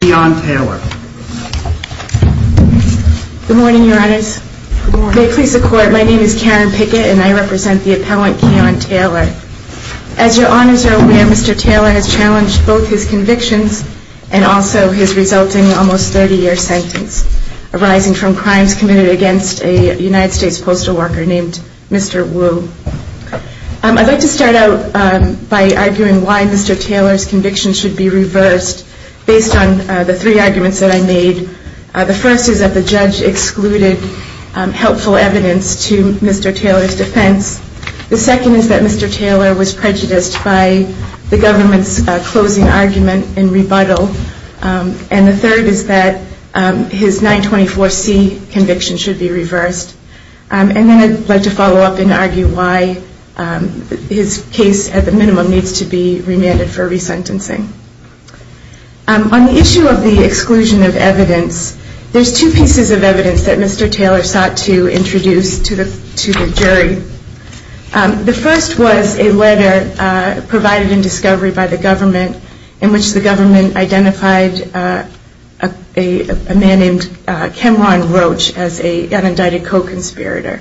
Good morning, Your Honors. May it please the Court, my name is Karen Pickett, and I represent the appellant Keon Taylor. As Your Honors are aware, Mr. Taylor has challenged both his convictions and also his resulting almost 30-year sentence, arising from crimes committed against a United States postal worker named Mr. Wu. I'd like to start out by arguing why Mr. Taylor's conviction should be reversed based on the three arguments that I made. The first is that the judge excluded helpful evidence to Mr. Taylor's defense. The second is that Mr. Taylor was prejudiced by the government's closing argument in rebuttal. And the third is that his 924C conviction should be reversed. And then I'd like to follow up and argue why his case at the minimum needs to be remanded for resentencing. On the issue of the exclusion of evidence, there's two pieces of evidence that Mr. Taylor sought to introduce to the jury. The first was a letter provided in discovery by the government in which the government identified a man named Kemron Roach as an indicted co-conspirator.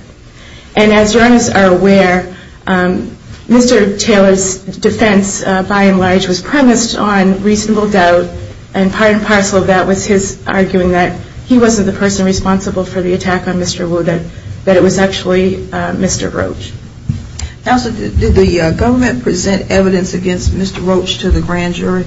And as Your Honors are aware, Mr. Taylor's defense, by and large, was premised on reasonable doubt and part and parcel of that was his arguing that he wasn't the person responsible for the attack on Mr. Wu, that it was actually Mr. Roach. Counsel, did the government present evidence against Mr. Roach to the grand jury?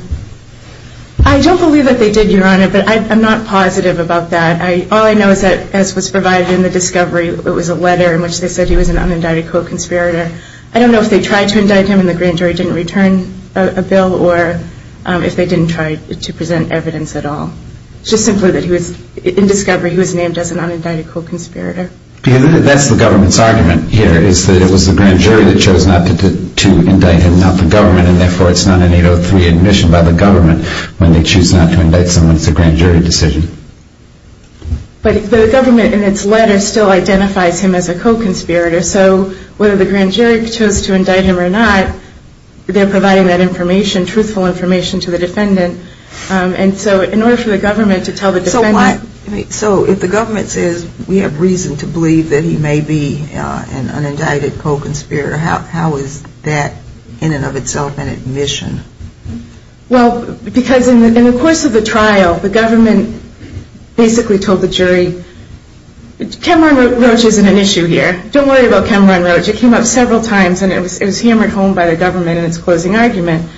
I don't believe that they did, Your Honor, but I'm not positive about that. All I know is that, as was provided in the discovery, it was a letter in which they said he was an unindicted co-conspirator. I don't know if they tried to indict him and the grand jury didn't return a bill or if they didn't try to present evidence at all. It's just simply that he was, in discovery, he was named as an unindicted co-conspirator. That's the government's argument here, is that it was the grand jury that chose not to indict him, not the government, and therefore it's not an 803 admission by the government when they choose not to indict someone. It's a grand jury decision. But the government, in its letter, still identifies him as a co-conspirator, so whether the grand jury chose to indict him or not, they're providing that information, truthful information, to the defendant. And so, in order for the government to tell the defendant So, if the government says we have reason to believe that he may be an unindicted co-conspirator, how is that, in and of itself, an admission? Well, because in the course of the trial, the government basically told the jury, Cameron Roach isn't an issue here. Don't worry about Cameron Roach. It came up several times and it was hammered home by the government in its closing argument.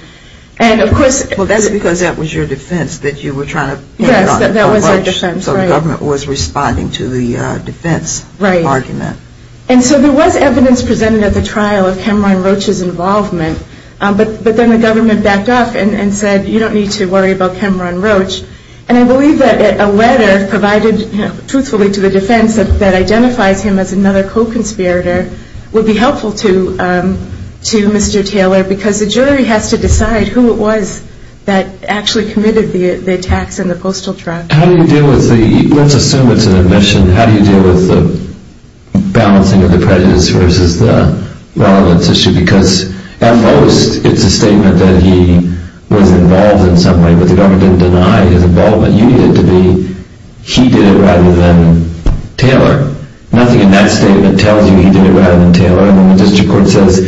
And, of course Well, that's because that was your defense, that you were trying to pin it on him. Yes, that was our defense, right. So the government was responding to the defense argument. Right. And so there was evidence presented at the trial of Cameron Roach's involvement, but then the government backed off and said, you don't need to worry about Cameron Roach. And I believe that a letter provided truthfully to the defense that identifies him as another co-conspirator would be helpful to Mr. Taylor, because the jury has to decide who it was that actually committed the attacks in the postal truck. How do you deal with the, let's assume it's an admission, how do you deal with the balancing of the prejudice versus the relevance issue? Because at most, it's a statement that he was involved in some way, but the government didn't deny his involvement. You need it to be, he did it rather than Taylor. Nothing in that statement tells you he did it rather than Taylor. And then the district court says,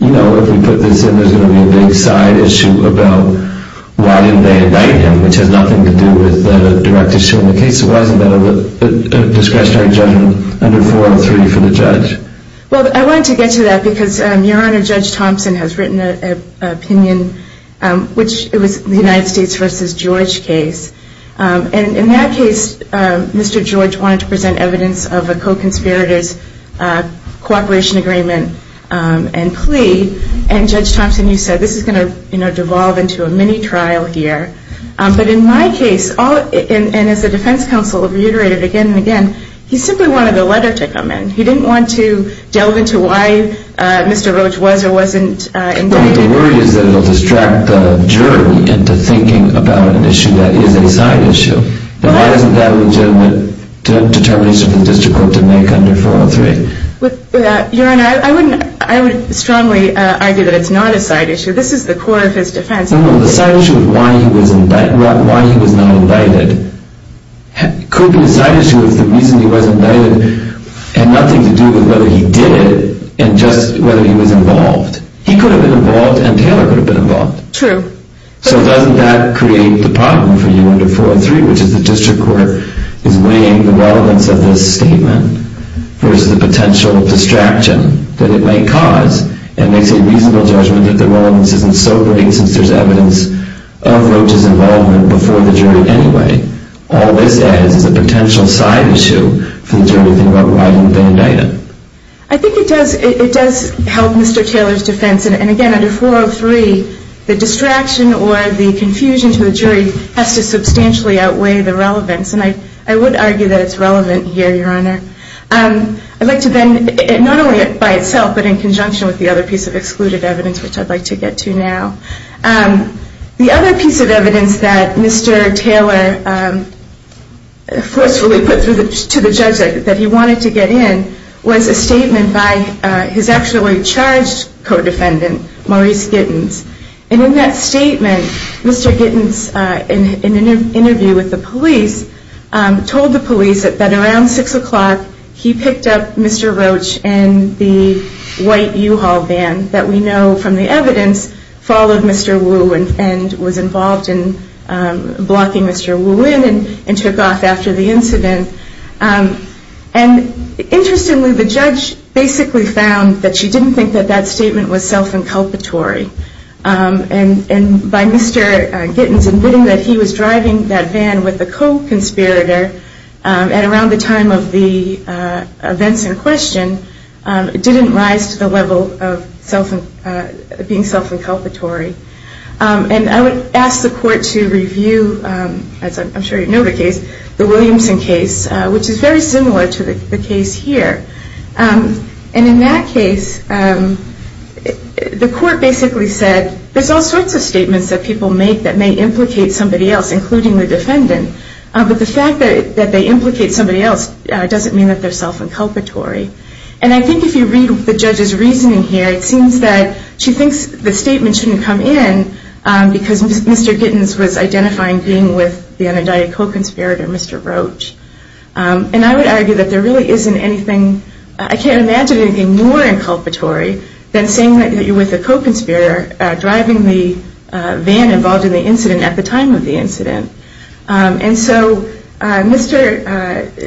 you know, if we put this in, there's going to be a big side issue about why didn't they indict him, which has nothing to do with the direct issue in the case. It was a discretionary judgment under 403 for the judge. Well, I wanted to get to that because your Honor, Judge Thompson has written an opinion, which was the United States versus George case. And in that case, Mr. George wanted to present evidence of a co-conspirators cooperation agreement and plea. And Judge Thompson, you know, said this is going to devolve into a mini trial here. But in my case, and as the defense counsel reiterated again and again, he simply wanted a letter to come in. He didn't want to delve into why Mr. Roach was or wasn't involved. Well, the worry is that it will distract the jury into thinking about an issue that is a side issue. But why isn't that a legitimate determination for the district court to make under 403? Your Honor, I would strongly argue that it's not a side issue. This is the core of his defense. No, no. The side issue is why he was not indicted. It could be a side issue if the reason he was indicted had nothing to do with whether he did it and just whether he was involved. He could have been involved and Taylor could have been involved. True. So doesn't that create the problem for you under 403, which is the district court is statement versus the potential distraction that it may cause, and makes a reasonable judgment that the relevance isn't so great since there's evidence of Roach's involvement before the jury anyway. All this adds as a potential side issue for the jury to think about why he would have been indicted. I think it does help Mr. Taylor's defense. And again, under 403, the distraction or the I'd like to then, not only by itself, but in conjunction with the other piece of excluded evidence, which I'd like to get to now. The other piece of evidence that Mr. Taylor forcefully put to the judge that he wanted to get in was a statement by his actually charged co-defendant, Maurice Gittins. And in that statement, Mr. Gittins, in an interview with the police, told the police that around 6 o'clock he picked up Mr. Roach and the white U-Haul van that we know from the evidence followed Mr. Wu and was involved in blocking Mr. Wu in and took off after the incident. And interestingly, the judge basically found that she didn't think that that statement was self-inculpatory. And by Mr. Gittins admitting that he was driving that van with the co-conspirator at around the time of the events in question, it didn't rise to the level of being self-inculpatory. And I would ask the court to review, as I'm sure you know the case, the Williamson case, which is very similar to the case here. And in that case, the court basically said, there's all sorts of statements that people make that may implicate somebody else, including the defendant. But the fact that they implicate somebody else doesn't mean that they're self-inculpatory. And I think if you read the judge's reasoning here, it seems that she thinks the statement shouldn't come in because Mr. Gittins was identifying being with the unindicted co-conspirator, Mr. Roach. And I would argue that there really isn't anything, I can't imagine anything more inculpatory than saying that you're with a co-conspirator driving the van involved in the incident at the time of the incident. And so Mr.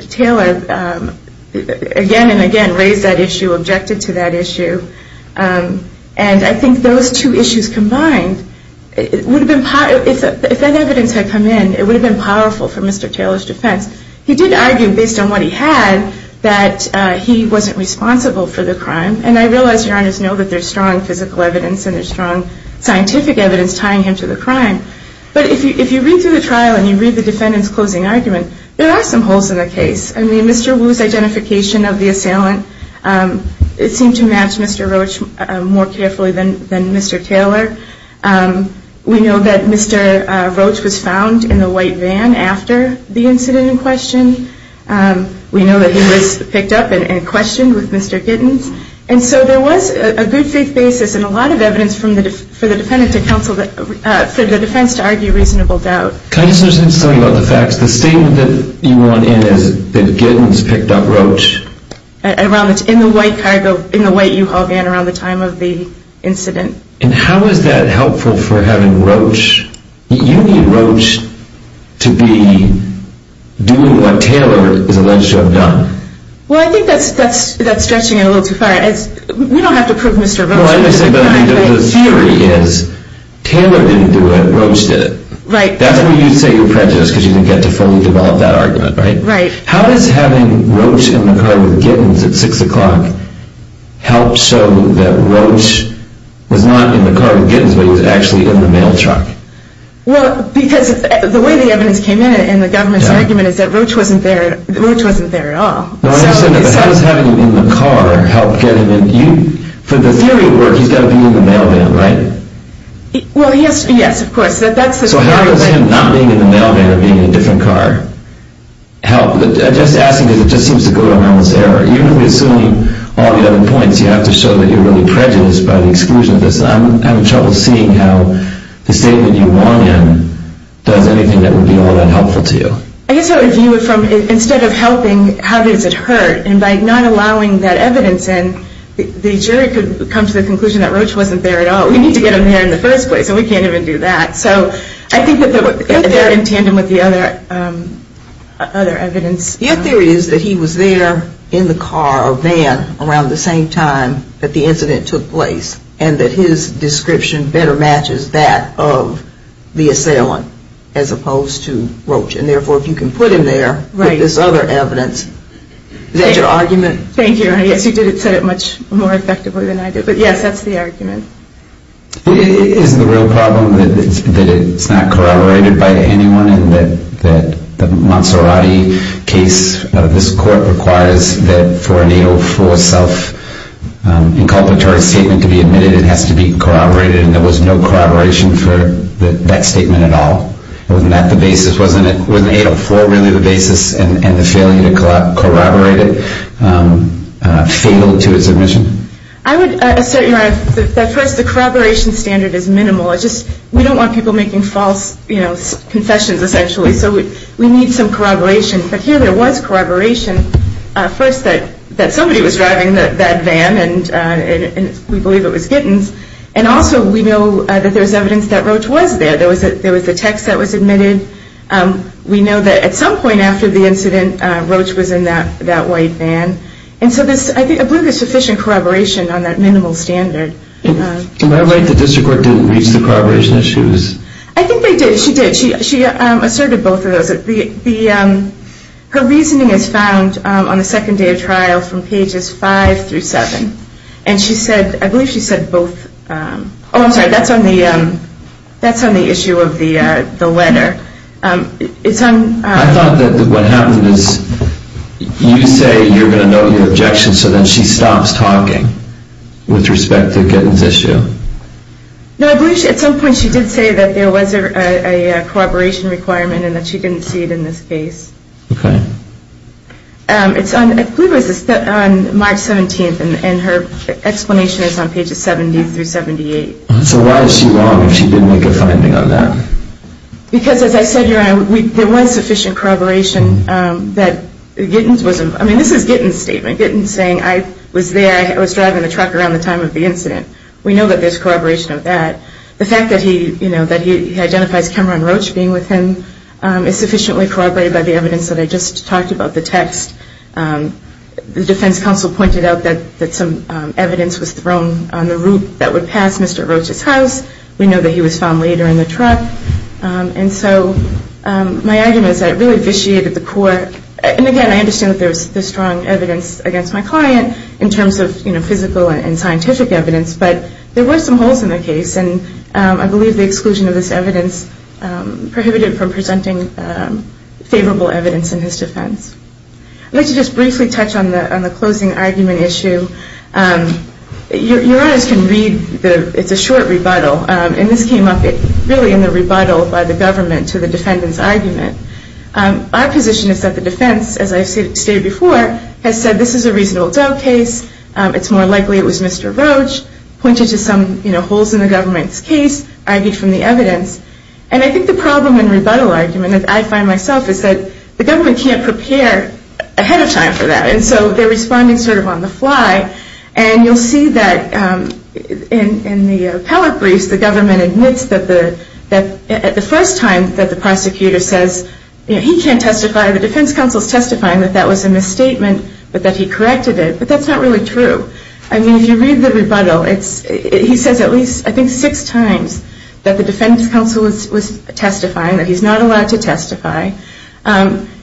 Taylor again and again raised that issue, objected to that issue. And I think those two issues combined, if that evidence had come in, it would have been powerful for Mr. Taylor's defense. He did argue, based on what he had, that he wasn't responsible for the crime. And I realize Your Honors know that there's strong physical evidence and there's strong scientific evidence tying him to the crime. But if you read through the trial and you read the defendant's closing argument, there are some holes in the case. I mean, Mr. Wu's identification of the assailant, it seemed to match Mr. Roach more carefully than Mr. Taylor. We know that Mr. Roach was found in the white van after the incident in question. We know that he was picked up and questioned with Mr. Giddens. And so there was a good faith basis and a lot of evidence for the defendant to counsel, for the defense to argue reasonable doubt. Counselor, since you're talking about the facts, the statement that you want in is that Giddens picked up Roach. In the white cargo, in the white U-Haul van around the time of the incident. And how is that helpful for having Roach? You need Roach to be doing what Taylor is alleged to have done. Well, I think that's stretching it a little too far. We don't have to prove Mr. Roach was the crime. The theory is Taylor didn't do it, Roach did it. Right. That's why you say you're prejudiced because you didn't get to fully develop that argument, right? Right. How does having Roach in the car with Giddens at 6 o'clock help show that Roach was not in the car with Giddens, but he was actually in the mail truck? Well, because the way the evidence came in and the government's argument is that Roach wasn't there at all. No, I understand that. But how does having him in the car help get him in? For the theory of work, he's got to be in the mail van, right? Well, yes, of course. So how does him not being in the mail van or being in a different car help? I'm just asking because it just seems to go down this error. You're really assuming all the other points. You have to show that you're really prejudiced by the exclusion of this. I'm having trouble seeing how the statement you want in does anything that would be all that helpful to you. I guess I would view it from instead of helping, how does it hurt? And by not allowing that evidence in, the jury could come to the conclusion that Roach wasn't there at all. But we need to get him there in the first place, and we can't even do that. So I think that in tandem with the other evidence. Your theory is that he was there in the car or van around the same time that the incident took place and that his description better matches that of the assailant as opposed to Roach. And therefore, if you can put him there with this other evidence, is that your argument? Thank you. I guess you did it much more effectively than I did. But yes, that's the argument. Isn't the real problem that it's not corroborated by anyone and that the Monserrati case of this court requires that for an 804 self-inculpatory statement to be admitted, it has to be corroborated and there was no corroboration for that statement at all? Wasn't that the basis? Wasn't 804 really the basis and the failure to corroborate it fatal to his admission? I would assert, Your Honor, that first the corroboration standard is minimal. We don't want people making false confessions, essentially, so we need some corroboration. But here there was corroboration. First, that somebody was driving that van, and we believe it was Gittins. And also we know that there was evidence that Roach was there. There was a text that was admitted. We know that at some point after the incident, Roach was in that white van. And so I believe there's sufficient corroboration on that minimal standard. Am I right that the district court didn't reach the corroboration issues? I think they did. She did. She asserted both of those. Her reasoning is found on the second day of trial from pages 5 through 7. And she said, I believe she said both. Oh, I'm sorry, that's on the issue of the letter. I thought that what happened is you say you're going to note your objection, so then she stops talking with respect to Gittins' issue. No, I believe at some point she did say that there was a corroboration requirement and that she didn't see it in this case. Okay. I believe it was on March 17th, and her explanation is on pages 70 through 78. So why is she wrong if she didn't make a finding on that? Because as I said, Your Honor, there was sufficient corroboration that Gittins was, I mean, this is Gittins' statement, Gittins saying, I was there, I was driving the truck around the time of the incident. We know that there's corroboration of that. The fact that he identifies Cameron Roach being with him is sufficiently corroborated by the evidence that I just talked about, the text. The defense counsel pointed out that some evidence was thrown on the route that would pass Mr. Roach's house. We know that he was found later in the truck. And so my argument is that it really vitiated the court. And again, I understand that there was strong evidence against my client in terms of physical and scientific evidence, but there were some holes in the case, and I believe the exclusion of this evidence prohibited it from presenting favorable evidence in his defense. I'd like to just briefly touch on the closing argument issue. Your Honors can read, it's a short rebuttal, and this came up really in the rebuttal by the government to the defendant's argument. Our position is that the defense, as I've stated before, has said this is a reasonable doubt case, it's more likely it was Mr. Roach, pointed to some holes in the government's case, argued from the evidence. And I think the problem in rebuttal argument, I find myself, is that the government can't prepare ahead of time for that, and so they're responding sort of on the fly. And you'll see that in the appellate briefs, the government admits that the first time that the prosecutor says, you know, he can't testify, the defense counsel is testifying that that was a misstatement, but that he corrected it, but that's not really true. I mean, if you read the rebuttal, he says at least, I think, six times that the defense counsel was testifying, that he's not allowed to testify.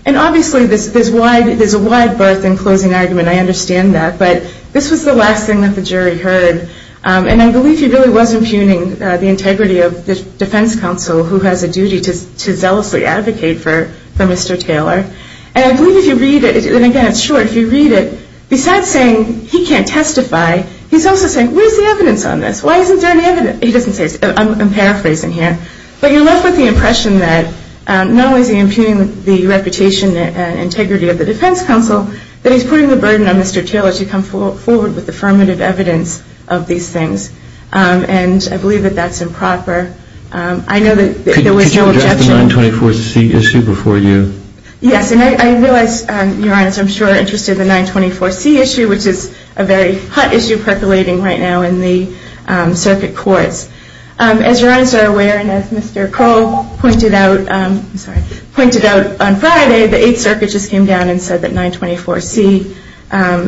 And obviously there's a wide berth in closing argument, I understand that, but this was the last thing that the jury heard, and I believe he really was impugning the integrity of the defense counsel, who has a duty to zealously advocate for Mr. Taylor. And I believe if you read it, and again it's short, if you read it, besides saying he can't testify, he's also saying, where's the evidence on this? Why isn't there any evidence? He doesn't say, I'm paraphrasing here, but you're left with the impression that not only is he impugning the reputation and integrity of the defense counsel, but he's putting the burden on Mr. Taylor to come forward with affirmative evidence of these things. And I believe that that's improper. I know that there was no objection. Could you address the 924C issue before you? Yes, and I realize, Your Honor, I'm sure you're interested in the 924C issue, which is a very hot issue percolating right now in the circuit courts. As Your Honor is aware, and as Mr. Cole pointed out on Friday, the Eighth Circuit just came down and said that 924C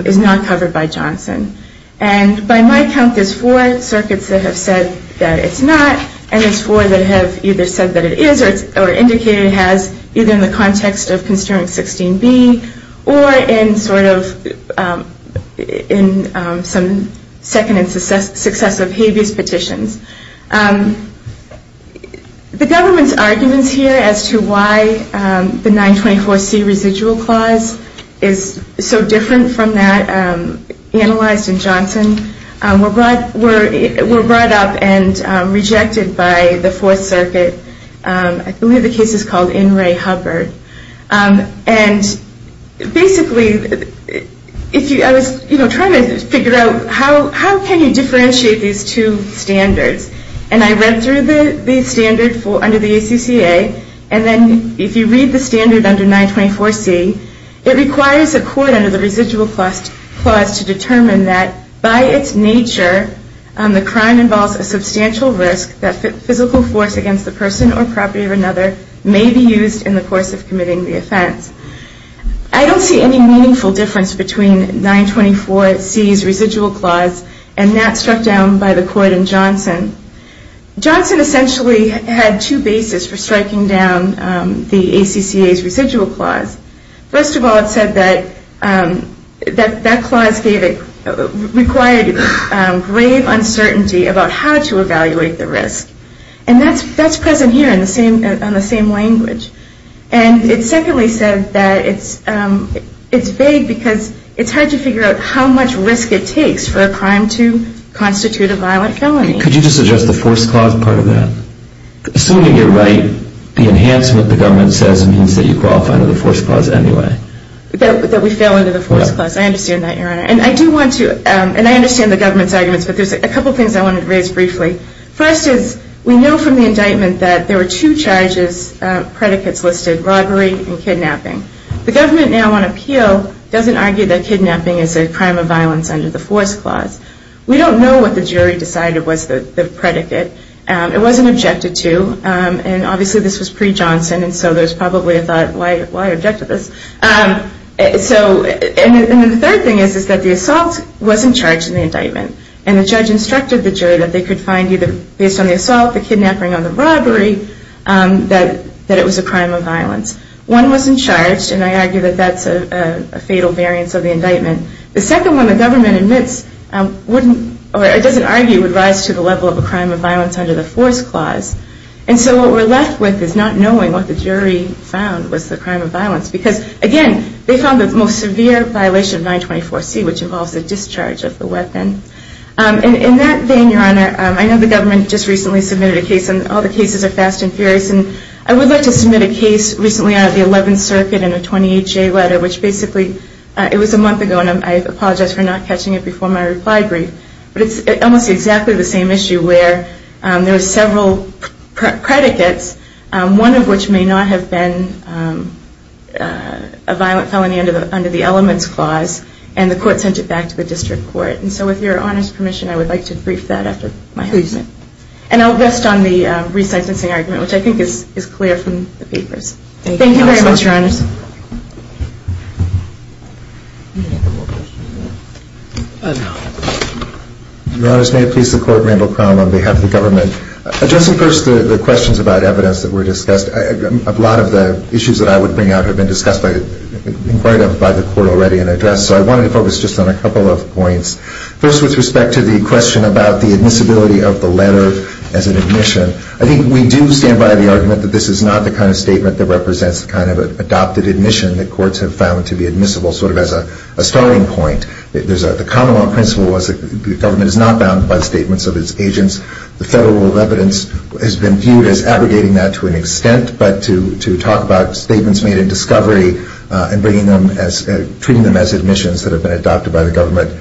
is not covered by Johnson. And by my count, there's four circuits that have said that it's not, and there's four that have either said that it is or indicated it has, either in the context of Constituent 16B or in sort of some second and successive habeas petitions. The government's arguments here as to why the 924C residual clause is so different from that analyzed in Johnson were brought up and rejected by the Fourth Circuit. I believe the case is called In Re Hubbard. And basically, I was trying to figure out how can you differentiate these two standards. And I read through the standard under the ACCA, and then if you read the standard under 924C, it requires a court under the residual clause to determine that by its nature, the crime involves a substantial risk that physical force against the person or property of another may be used in the course of committing the offense. I don't see any meaningful difference between 924C's residual clause and that struck down by the court in Johnson. Johnson essentially had two bases for striking down the ACCA's residual clause. First of all, it said that that clause required grave uncertainty about how to evaluate the risk. And that's present here on the same language. And it secondly said that it's vague because it's hard to figure out how much risk it takes for a crime to constitute a violent felony. Could you just address the forced clause part of that? Assuming you're right, the enhancement the government says means that you qualify under the forced clause anyway. That we fail under the forced clause. I understand that, Your Honor. And I do want to, and I understand the government's arguments, but there's a couple things I wanted to raise briefly. First is, we know from the indictment that there were two charges, predicates listed, robbery and kidnapping. The government now on appeal doesn't argue that kidnapping is a crime of violence under the forced clause. It wasn't objected to, and obviously this was pre-Johnson and so there's probably a thought, why object to this? And the third thing is that the assault wasn't charged in the indictment. And the judge instructed the jury that they could find either based on the assault, the kidnapping, or the robbery, that it was a crime of violence. One wasn't charged and I argue that that's a fatal variance of the indictment. The second one the government admits wouldn't, or it doesn't argue, would rise to the level of a crime of violence under the forced clause. And so what we're left with is not knowing what the jury found was the crime of violence. Because, again, they found the most severe violation of 924C, which involves the discharge of the weapon. And in that vein, Your Honor, I know the government just recently submitted a case, and all the cases are fast and furious. And I would like to submit a case recently out of the 11th Circuit in a 28-J letter, which basically, it was a month ago, and I apologize for not catching it before my reply brief. But it's almost exactly the same issue where there were several predicates, one of which may not have been a violent felony under the elements clause, and the court sent it back to the district court. And so with Your Honor's permission, I would like to brief that after my comment. And I'll rest on the re-sicensing argument, which I think is clear from the papers. Thank you very much, Your Honor. Your Honor, may it please the Court, Randall Crown on behalf of the government. Addressing first the questions about evidence that were discussed, a lot of the issues that I would bring out have been discussed by the court already and addressed. So I wanted to focus just on a couple of points. First, with respect to the question about the admissibility of the letter as an admission, I think we do stand by the argument that this is not the kind of statement that represents the kind of adopted admission that courts have found to be admissible, sort of as a starting point. The common law principle was that the government is not bound by the statements of its agents. The federal rule of evidence has been viewed as aggregating that to an extent, but to talk about statements made in discovery and treating them as admissions that have been adopted by the government.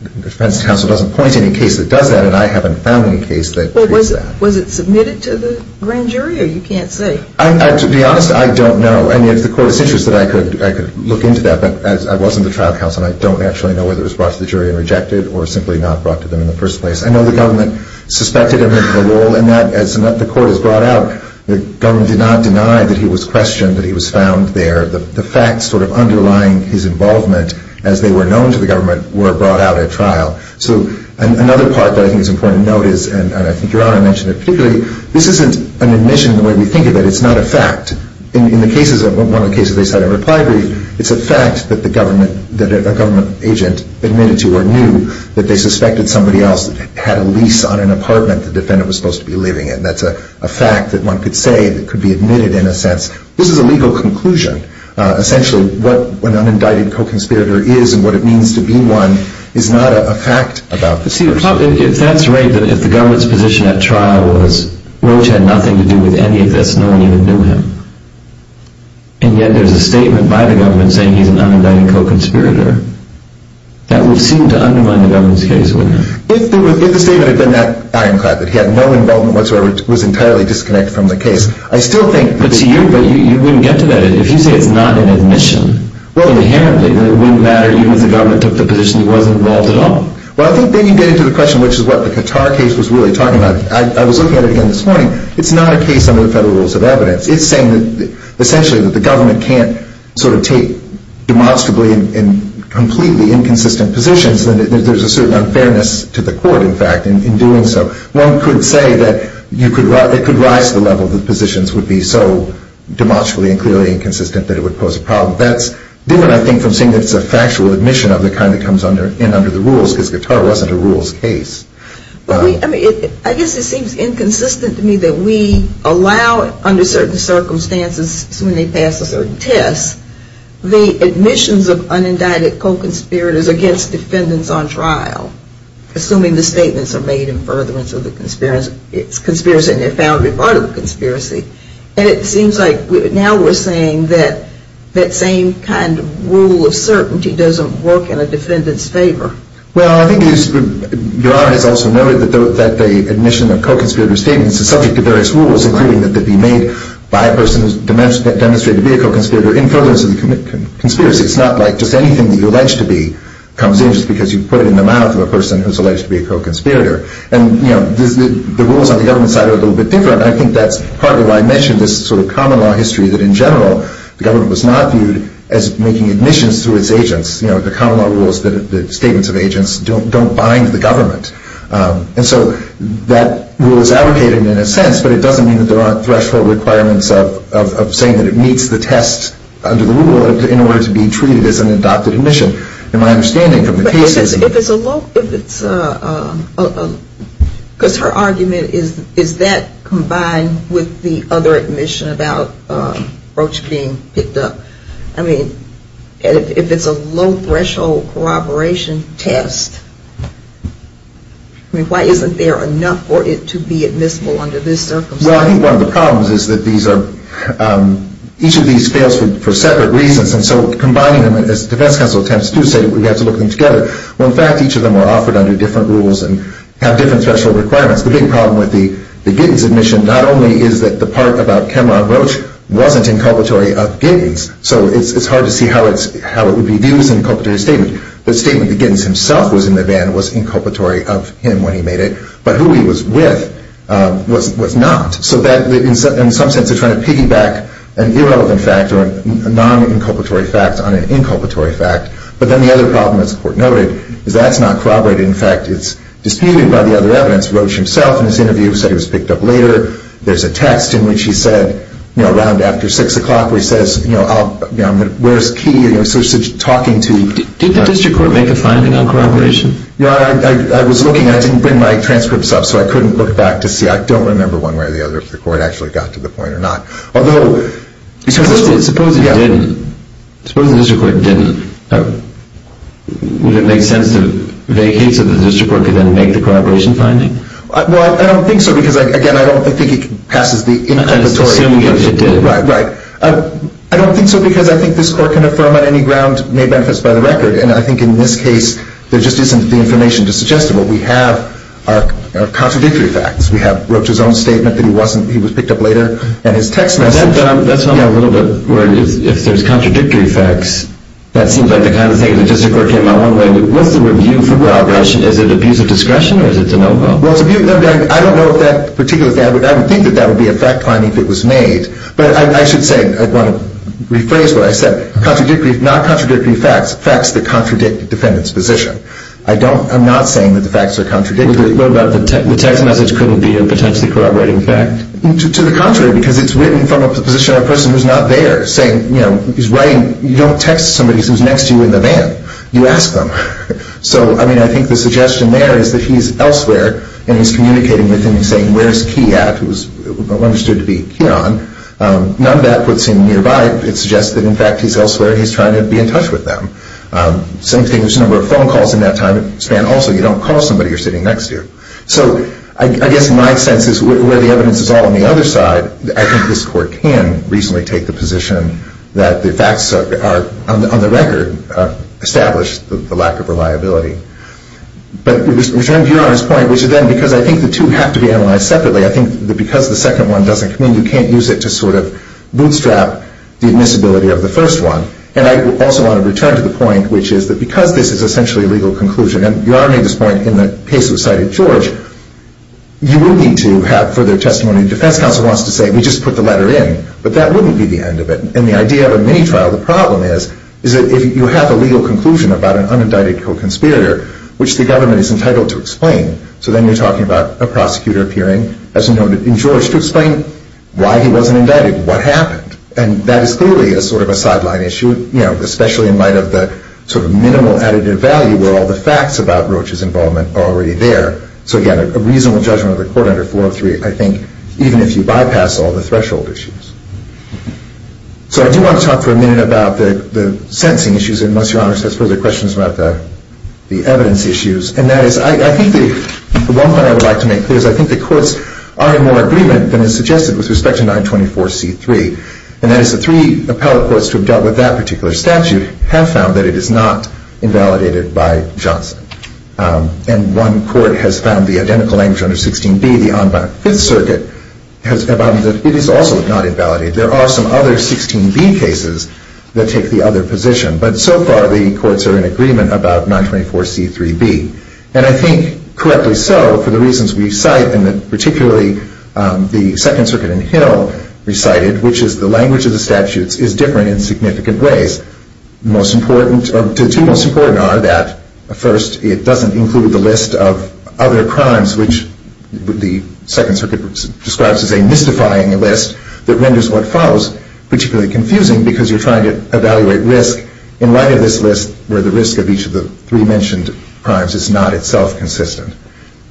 The defense counsel doesn't point to any case that does that, and I haven't found any case that treats that. Well, was it submitted to the grand jury, or you can't say? To be honest, I don't know. And if the court is interested, I could look into that. But I wasn't the trial counsel, and I don't actually know whether it was brought to the jury and rejected or simply not brought to them in the first place. I know the government suspected him of a role in that. As the court has brought out, the government did not deny that he was questioned, that he was found there. The facts sort of underlying his involvement, as they were known to the government, were brought out at trial. So another part that I think is important to note is, and I think Your Honor mentioned it particularly, this isn't an admission the way we think of it. It's not a fact. In one of the cases they cited in reply brief, it's a fact that a government agent admitted to or knew that they suspected somebody else had a lease on an apartment the defendant was supposed to be living in. That's a fact that one could say that could be admitted in a sense. This is a legal conclusion. Essentially, what an unindicted co-conspirator is and what it means to be one is not a fact about the person. If that's right, then if the government's position at trial was Roach had nothing to do with any of this, no one even knew him, and yet there's a statement by the government saying he's an unindicted co-conspirator, that would seem to undermine the government's case, wouldn't it? If the statement had been that ironclad, that he had no involvement whatsoever, was entirely disconnected from the case, I still think that... But to you, you wouldn't get to that. If you say it's not an admission, inherently it wouldn't matter, even if the government took the position he wasn't involved at all. Well, I think then you get into the question, which is what the Qatar case was really talking about. I was looking at it again this morning. It's not a case under the federal rules of evidence. It's saying that essentially the government can't take demonstrably and completely inconsistent positions. There's a certain unfairness to the court, in fact, in doing so. One could say that it could rise to the level that positions would be so demonstrably and clearly inconsistent that it would pose a problem. That's different, I think, from saying it's a factual admission of the kind that comes in under the rules, because Qatar wasn't a rules case. I guess it seems inconsistent to me that we allow, under certain circumstances, when they pass a certain test, the admissions of unindicted co-conspirators against defendants on trial, assuming the statements are made in furtherance of the conspiracy, and they're found to be part of the conspiracy. And it seems like now we're saying that that same kind of rule of certainty doesn't work in a defendant's favor. Well, I think Your Honor has also noted that the admission of co-conspirator statements is subject to various rules, including that they be made by a person who's demonstrated to be a co-conspirator in furtherance of the conspiracy. It's not like just anything that you allege to be comes in just because you put it in the mouth of a person who's alleged to be a co-conspirator. And the rules on the government side are a little bit different, and I think that's partly why I mentioned this sort of common law history, that in general the government was not viewed as making admissions through its agents. You know, the common law rule is that the statements of agents don't bind the government. And so that rule is advocated in a sense, but it doesn't mean that there aren't threshold requirements of saying that it meets the test under the rule in order to be treated as an adopted admission. In my understanding from the cases... But if it's a low... if it's a... because her argument is that combined with the other admission about Roach being picked up. I mean, if it's a low-threshold corroboration test, I mean, why isn't there enough for it to be admissible under this circumstance? Well, I think one of the problems is that these are... each of these fails for separate reasons, and so combining them as defense counsel attempts to say that we have to look them together. Well, in fact, each of them are offered under different rules and have different threshold requirements. The big problem with the Giddens admission not only is that the part about Cameron Roach wasn't inculpatory of Giddens, so it's hard to see how it would be viewed as an inculpatory statement. The statement that Giddens himself was in the van was inculpatory of him when he made it, but who he was with was not. So that, in some sense, is trying to piggyback an irrelevant fact or a non-inculpatory fact on an inculpatory fact. But then the other problem, as the Court noted, is that's not corroborated. In fact, it's disputed by the other evidence. Roach himself, in his interview, said he was picked up later. There's a text in which he said, you know, around after 6 o'clock, where he says, you know, where's Key? So he's talking to... Did the District Court make a finding on corroboration? Yeah, I was looking, and I didn't bring my transcripts up, so I couldn't look back to see. I don't remember one way or the other if the Court actually got to the point or not. Although... Suppose it didn't. Suppose the District Court didn't. Would it make sense to vacate so the District Court could then make the corroboration finding? Well, I don't think so because, again, I don't think it passes the inculpatory... Assuming that it did. Right, right. I don't think so because I think this Court can affirm on any ground made manifest by the record, and I think in this case there just isn't the information to suggest it. What we have are contradictory facts. We have Roach's own statement that he was picked up later and his text message. If there's contradictory facts, that seems like the kind of thing the District Court came out with. What's the review for Roach? Is it abuse of discretion or is it a no-go? I don't know if that particular fact... I would think that that would be a fact finding if it was made, but I should say, I want to rephrase what I said. Contradictory, not contradictory facts, facts that contradict the defendant's position. I'm not saying that the facts are contradictory. What about the text message couldn't be a potentially corroborating fact? To the contrary, because it's written from a position of a person who's not there, saying, you know, he's writing... You don't text somebody who's next to you in the van. You ask them. So, I mean, I think the suggestion there is that he's elsewhere and he's communicating with them and saying, where is Key at, who is understood to be Keyon. None of that puts him nearby. It suggests that, in fact, he's elsewhere and he's trying to be in touch with them. Same thing, there's a number of phone calls in that time span. Also, you don't call somebody who's sitting next to you. So, I guess my sense is, where the evidence is all on the other side, I think this court can reasonably take the position that the facts are, on the record, established the lack of reliability. But we return to Yaron's point, which is then, because I think the two have to be analyzed separately, I think that because the second one doesn't commune, you can't use it to sort of bootstrap the admissibility of the first one. And I also want to return to the point, which is that because this is essentially a legal conclusion, and Yaron made this point in the case that was cited, George, you would need to have further testimony. The defense counsel wants to say, we just put the letter in, but that wouldn't be the end of it. And the idea of a mini-trial, the problem is, is that if you have a legal conclusion about an unindicted co-conspirator, which the government is entitled to explain, so then you're talking about a prosecutor appearing, as noted in George, to explain why he wasn't indicted, what happened. And that is clearly a sort of a sideline issue, especially in light of the sort of minimal additive value where all the facts about Roach's involvement are already there. So again, a reasonable judgment of the court under 403, I think, even if you bypass all the threshold issues. So I do want to talk for a minute about the sentencing issues, unless Your Honor has further questions about the evidence issues. And that is, I think the one point I would like to make clear is I think the courts are in more agreement than is suggested with respect to 924C3. And that is the three appellate courts to have dealt with that particular statute have found that it is not invalidated by Johnson. And one court has found the identical language under 16B, the en banc Fifth Circuit, has found that it is also not invalidated. There are some other 16B cases that take the other position. But so far the courts are in agreement about 924C3B. And I think, correctly so, for the reasons we cite, and particularly the Second Circuit in Hill recited, which is the language of the statutes is different in significant ways. The two most important are that, first, it doesn't include the list of other crimes, which the Second Circuit describes as a mystifying list that renders what follows particularly confusing because you're trying to evaluate risk in light of this list where the risk of each of the three mentioned crimes is not itself consistent.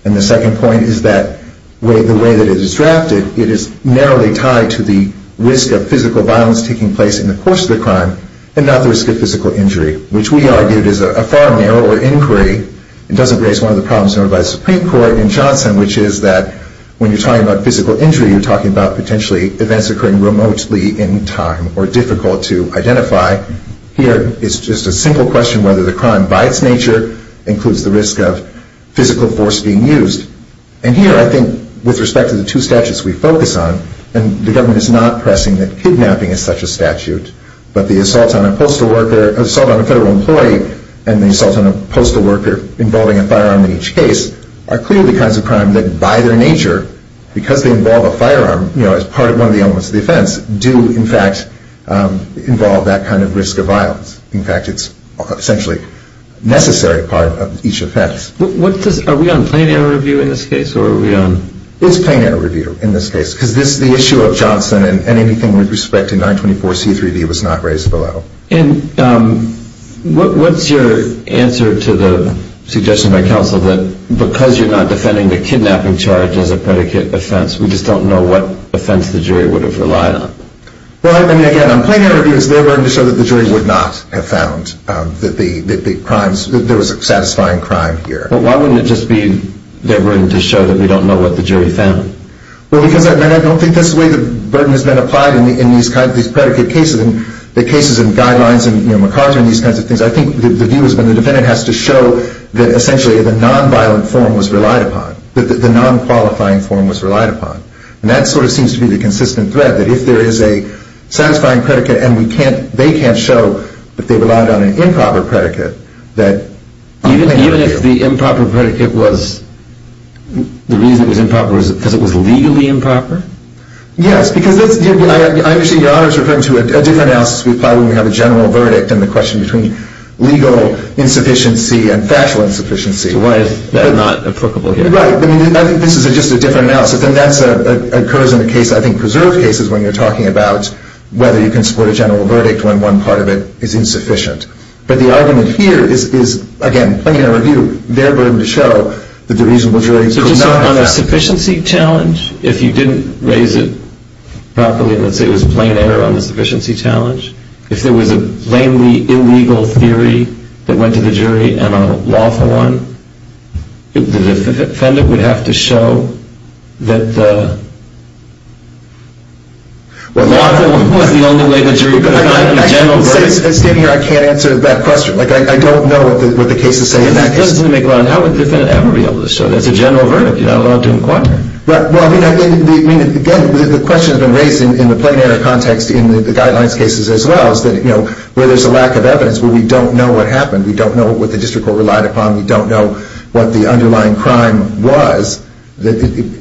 And the second point is that the way that it is drafted, it is narrowly tied to the risk of physical violence taking place in the course of the crime and not the risk of physical injury, which we argued is a far narrower inquiry and doesn't raise one of the problems noted by the Supreme Court in Johnson, which is that when you're talking about physical injury, you're talking about potentially events occurring remotely in time or difficult to identify. Here it's just a single question whether the crime, by its nature, includes the risk of physical force being used. And here, I think, with respect to the two statutes we focus on, the government is not pressing that kidnapping is such a statute, but the assault on a federal employee and the assault on a postal worker involving a firearm in each case are clearly the kinds of crimes that, by their nature, because they involve a firearm as part of one of the elements of the offense, do, in fact, involve that kind of risk of violence. In fact, it's essentially a necessary part of each offense. Are we on plain air review in this case? It's plain air review in this case because the issue of Johnson and anything with respect to 924c3b was not raised below. And what's your answer to the suggestion by counsel that because you're not defending the kidnapping charge as a predicate offense, we just don't know what offense the jury would have relied on? Well, I mean, again, on plain air review, it's their burden to show that the jury would not have found that there was a satisfying crime here. But why wouldn't it just be their burden to show that we don't know what the jury found? Well, because I don't think that's the way the burden has been applied in these predicate cases. In the cases in Guidelines and MacArthur and these kinds of things, I think the view has been the defendant has to show that essentially the nonviolent form was relied upon, that the nonqualifying form was relied upon. And that sort of seems to be the consistent thread, that if there is a satisfying predicate and they can't show that they relied on an improper predicate, Even if the improper predicate was, the reason it was improper was because it was legally improper? Yes, because I understand Your Honor is referring to a different analysis we apply when we have a general verdict and the question between legal insufficiency and factual insufficiency. So why is that not applicable here? Right. I mean, I think this is just a different analysis. And that occurs in a case, I think preserved cases, when you're talking about whether you can support a general verdict when one part of it is insufficient. But the argument here is, again, plain error of view. They're willing to show that the reasonable jury could not have that. So just on a sufficiency challenge, if you didn't raise it properly, let's say it was plain error on the sufficiency challenge, if there was a blatantly illegal theory that went to the jury and a lawful one, the defendant would have to show that the lawful one was the only way the jury could have gotten a general verdict. As standing here, I can't answer that question. Like, I don't know what the cases say in that case. It doesn't make a lot of sense. How would the defendant ever be able to show that it's a general verdict? You're not allowed to inquire. Well, I mean, again, the question has been raised in the plain error context in the guidelines cases as well, is that where there's a lack of evidence, where we don't know what happened, we don't know what the district court relied upon, we don't know what the underlying crime was, the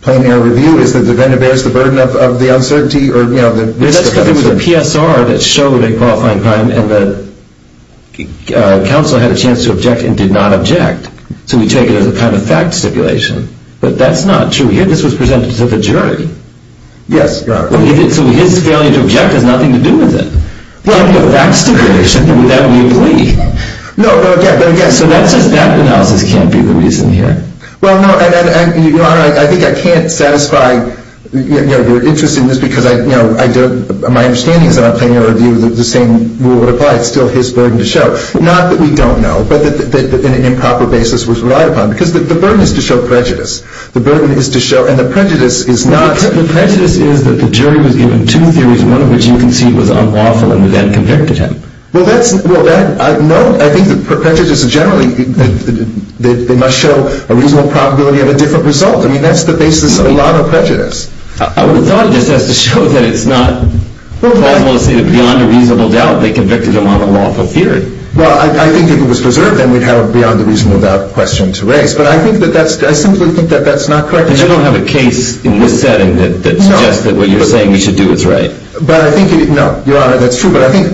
plain error of view is that the defendant bears the burden of the uncertainty. That's because there was a PSR that showed a qualifying crime and the counsel had a chance to object and did not object. So we take it as a kind of fact stipulation. But that's not true here. This was presented to the jury. Yes, Your Honor. So his failure to object has nothing to do with it. Well, the fact stipulation, that would be a plea. No, but again. So that says that analysis can't be the reason here. Well, no, and Your Honor, I think I can't satisfy your interest in this because my understanding is that on plain error of view, the same rule would apply. It's still his burden to show. Not that we don't know, but that an improper basis was relied upon because the burden is to show prejudice. The burden is to show, and the prejudice is not. The prejudice is that the jury was given two theories, one of which you concede was unlawful and then convicted him. Well, that's. No, I think that prejudice generally, they must show a reasonable probability of a different result. I mean, that's the basis of a lot of prejudice. I would have thought of this as to show that it's not possible to say that beyond a reasonable doubt they convicted him on the lawful theory. Well, I think if it was preserved, then we'd have a beyond a reasonable doubt question to raise. But I think that that's, I simply think that that's not correct. But you don't have a case in this setting that suggests that what you're saying we should do is right. But I think, no, Your Honor, that's true. But I think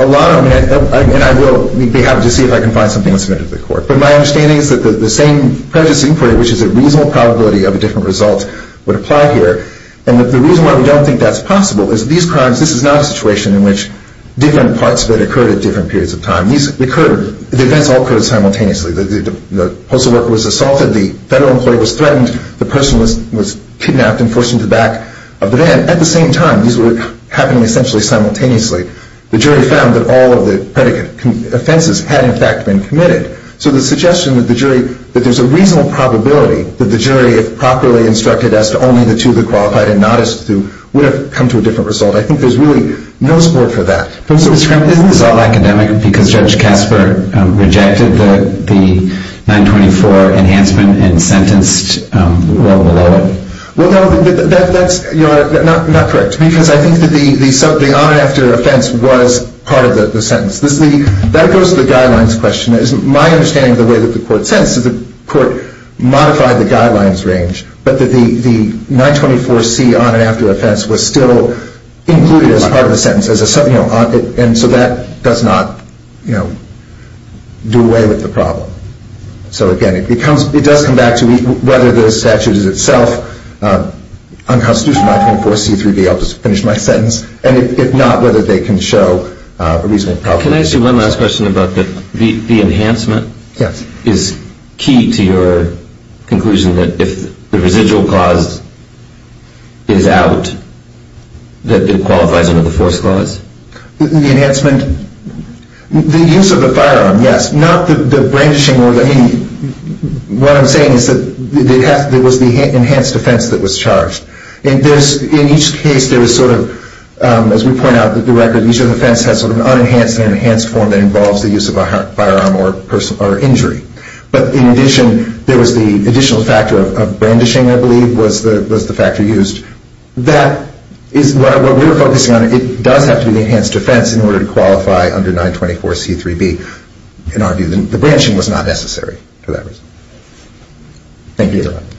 a lot of, and I will be happy to see if I can find something that's submitted to the court. But my understanding is that the same prejudice inquiry, which is a reasonable probability of a different result, would apply here. And the reason why we don't think that's possible is these crimes, this is not a situation in which different parts of it occurred at different periods of time. These occurred, the events all occurred simultaneously. The postal worker was assaulted. The federal employee was threatened. The person was kidnapped and forced into the back of the van. At the same time, these were happening essentially simultaneously. The jury found that all of the predicate offenses had, in fact, been committed. So the suggestion that the jury, that there's a reasonable probability that the jury, if properly instructed as to only the two that qualified and not as to two, would have come to a different result. I think there's really no support for that. Mr. Kremlin, isn't this all academic because Judge Kasper rejected the 924 enhancement and sentenced well below it? Well, no, that's, Your Honor, not correct. Because I think that the on and after offense was part of the sentence. That goes to the guidelines question. My understanding of the way that the court sentenced is that the court modified the guidelines range, but that the 924C on and after offense was still included as part of the sentence. And so that does not do away with the problem. So, again, it does come back to whether the statute is itself unconstitutional, 924C, 3B, and if not, whether they can show a reasonable probability. Can I ask you one last question about the enhancement? Yes. Is key to your conclusion that if the residual clause is out, that it qualifies under the force clause? The enhancement, the use of the firearm, yes. Not the brandishing or the, I mean, what I'm saying is that there was the enhanced offense that was charged. In each case, there was sort of, as we point out, the record, each offense has sort of an unenhanced and enhanced form that involves the use of a firearm or injury. But in addition, there was the additional factor of brandishing, I believe, was the factor used. That is what we're focusing on. It does have to be the enhanced offense in order to qualify under 924C, 3B. In our view, the brandishing was not necessary for that reason. Thank you.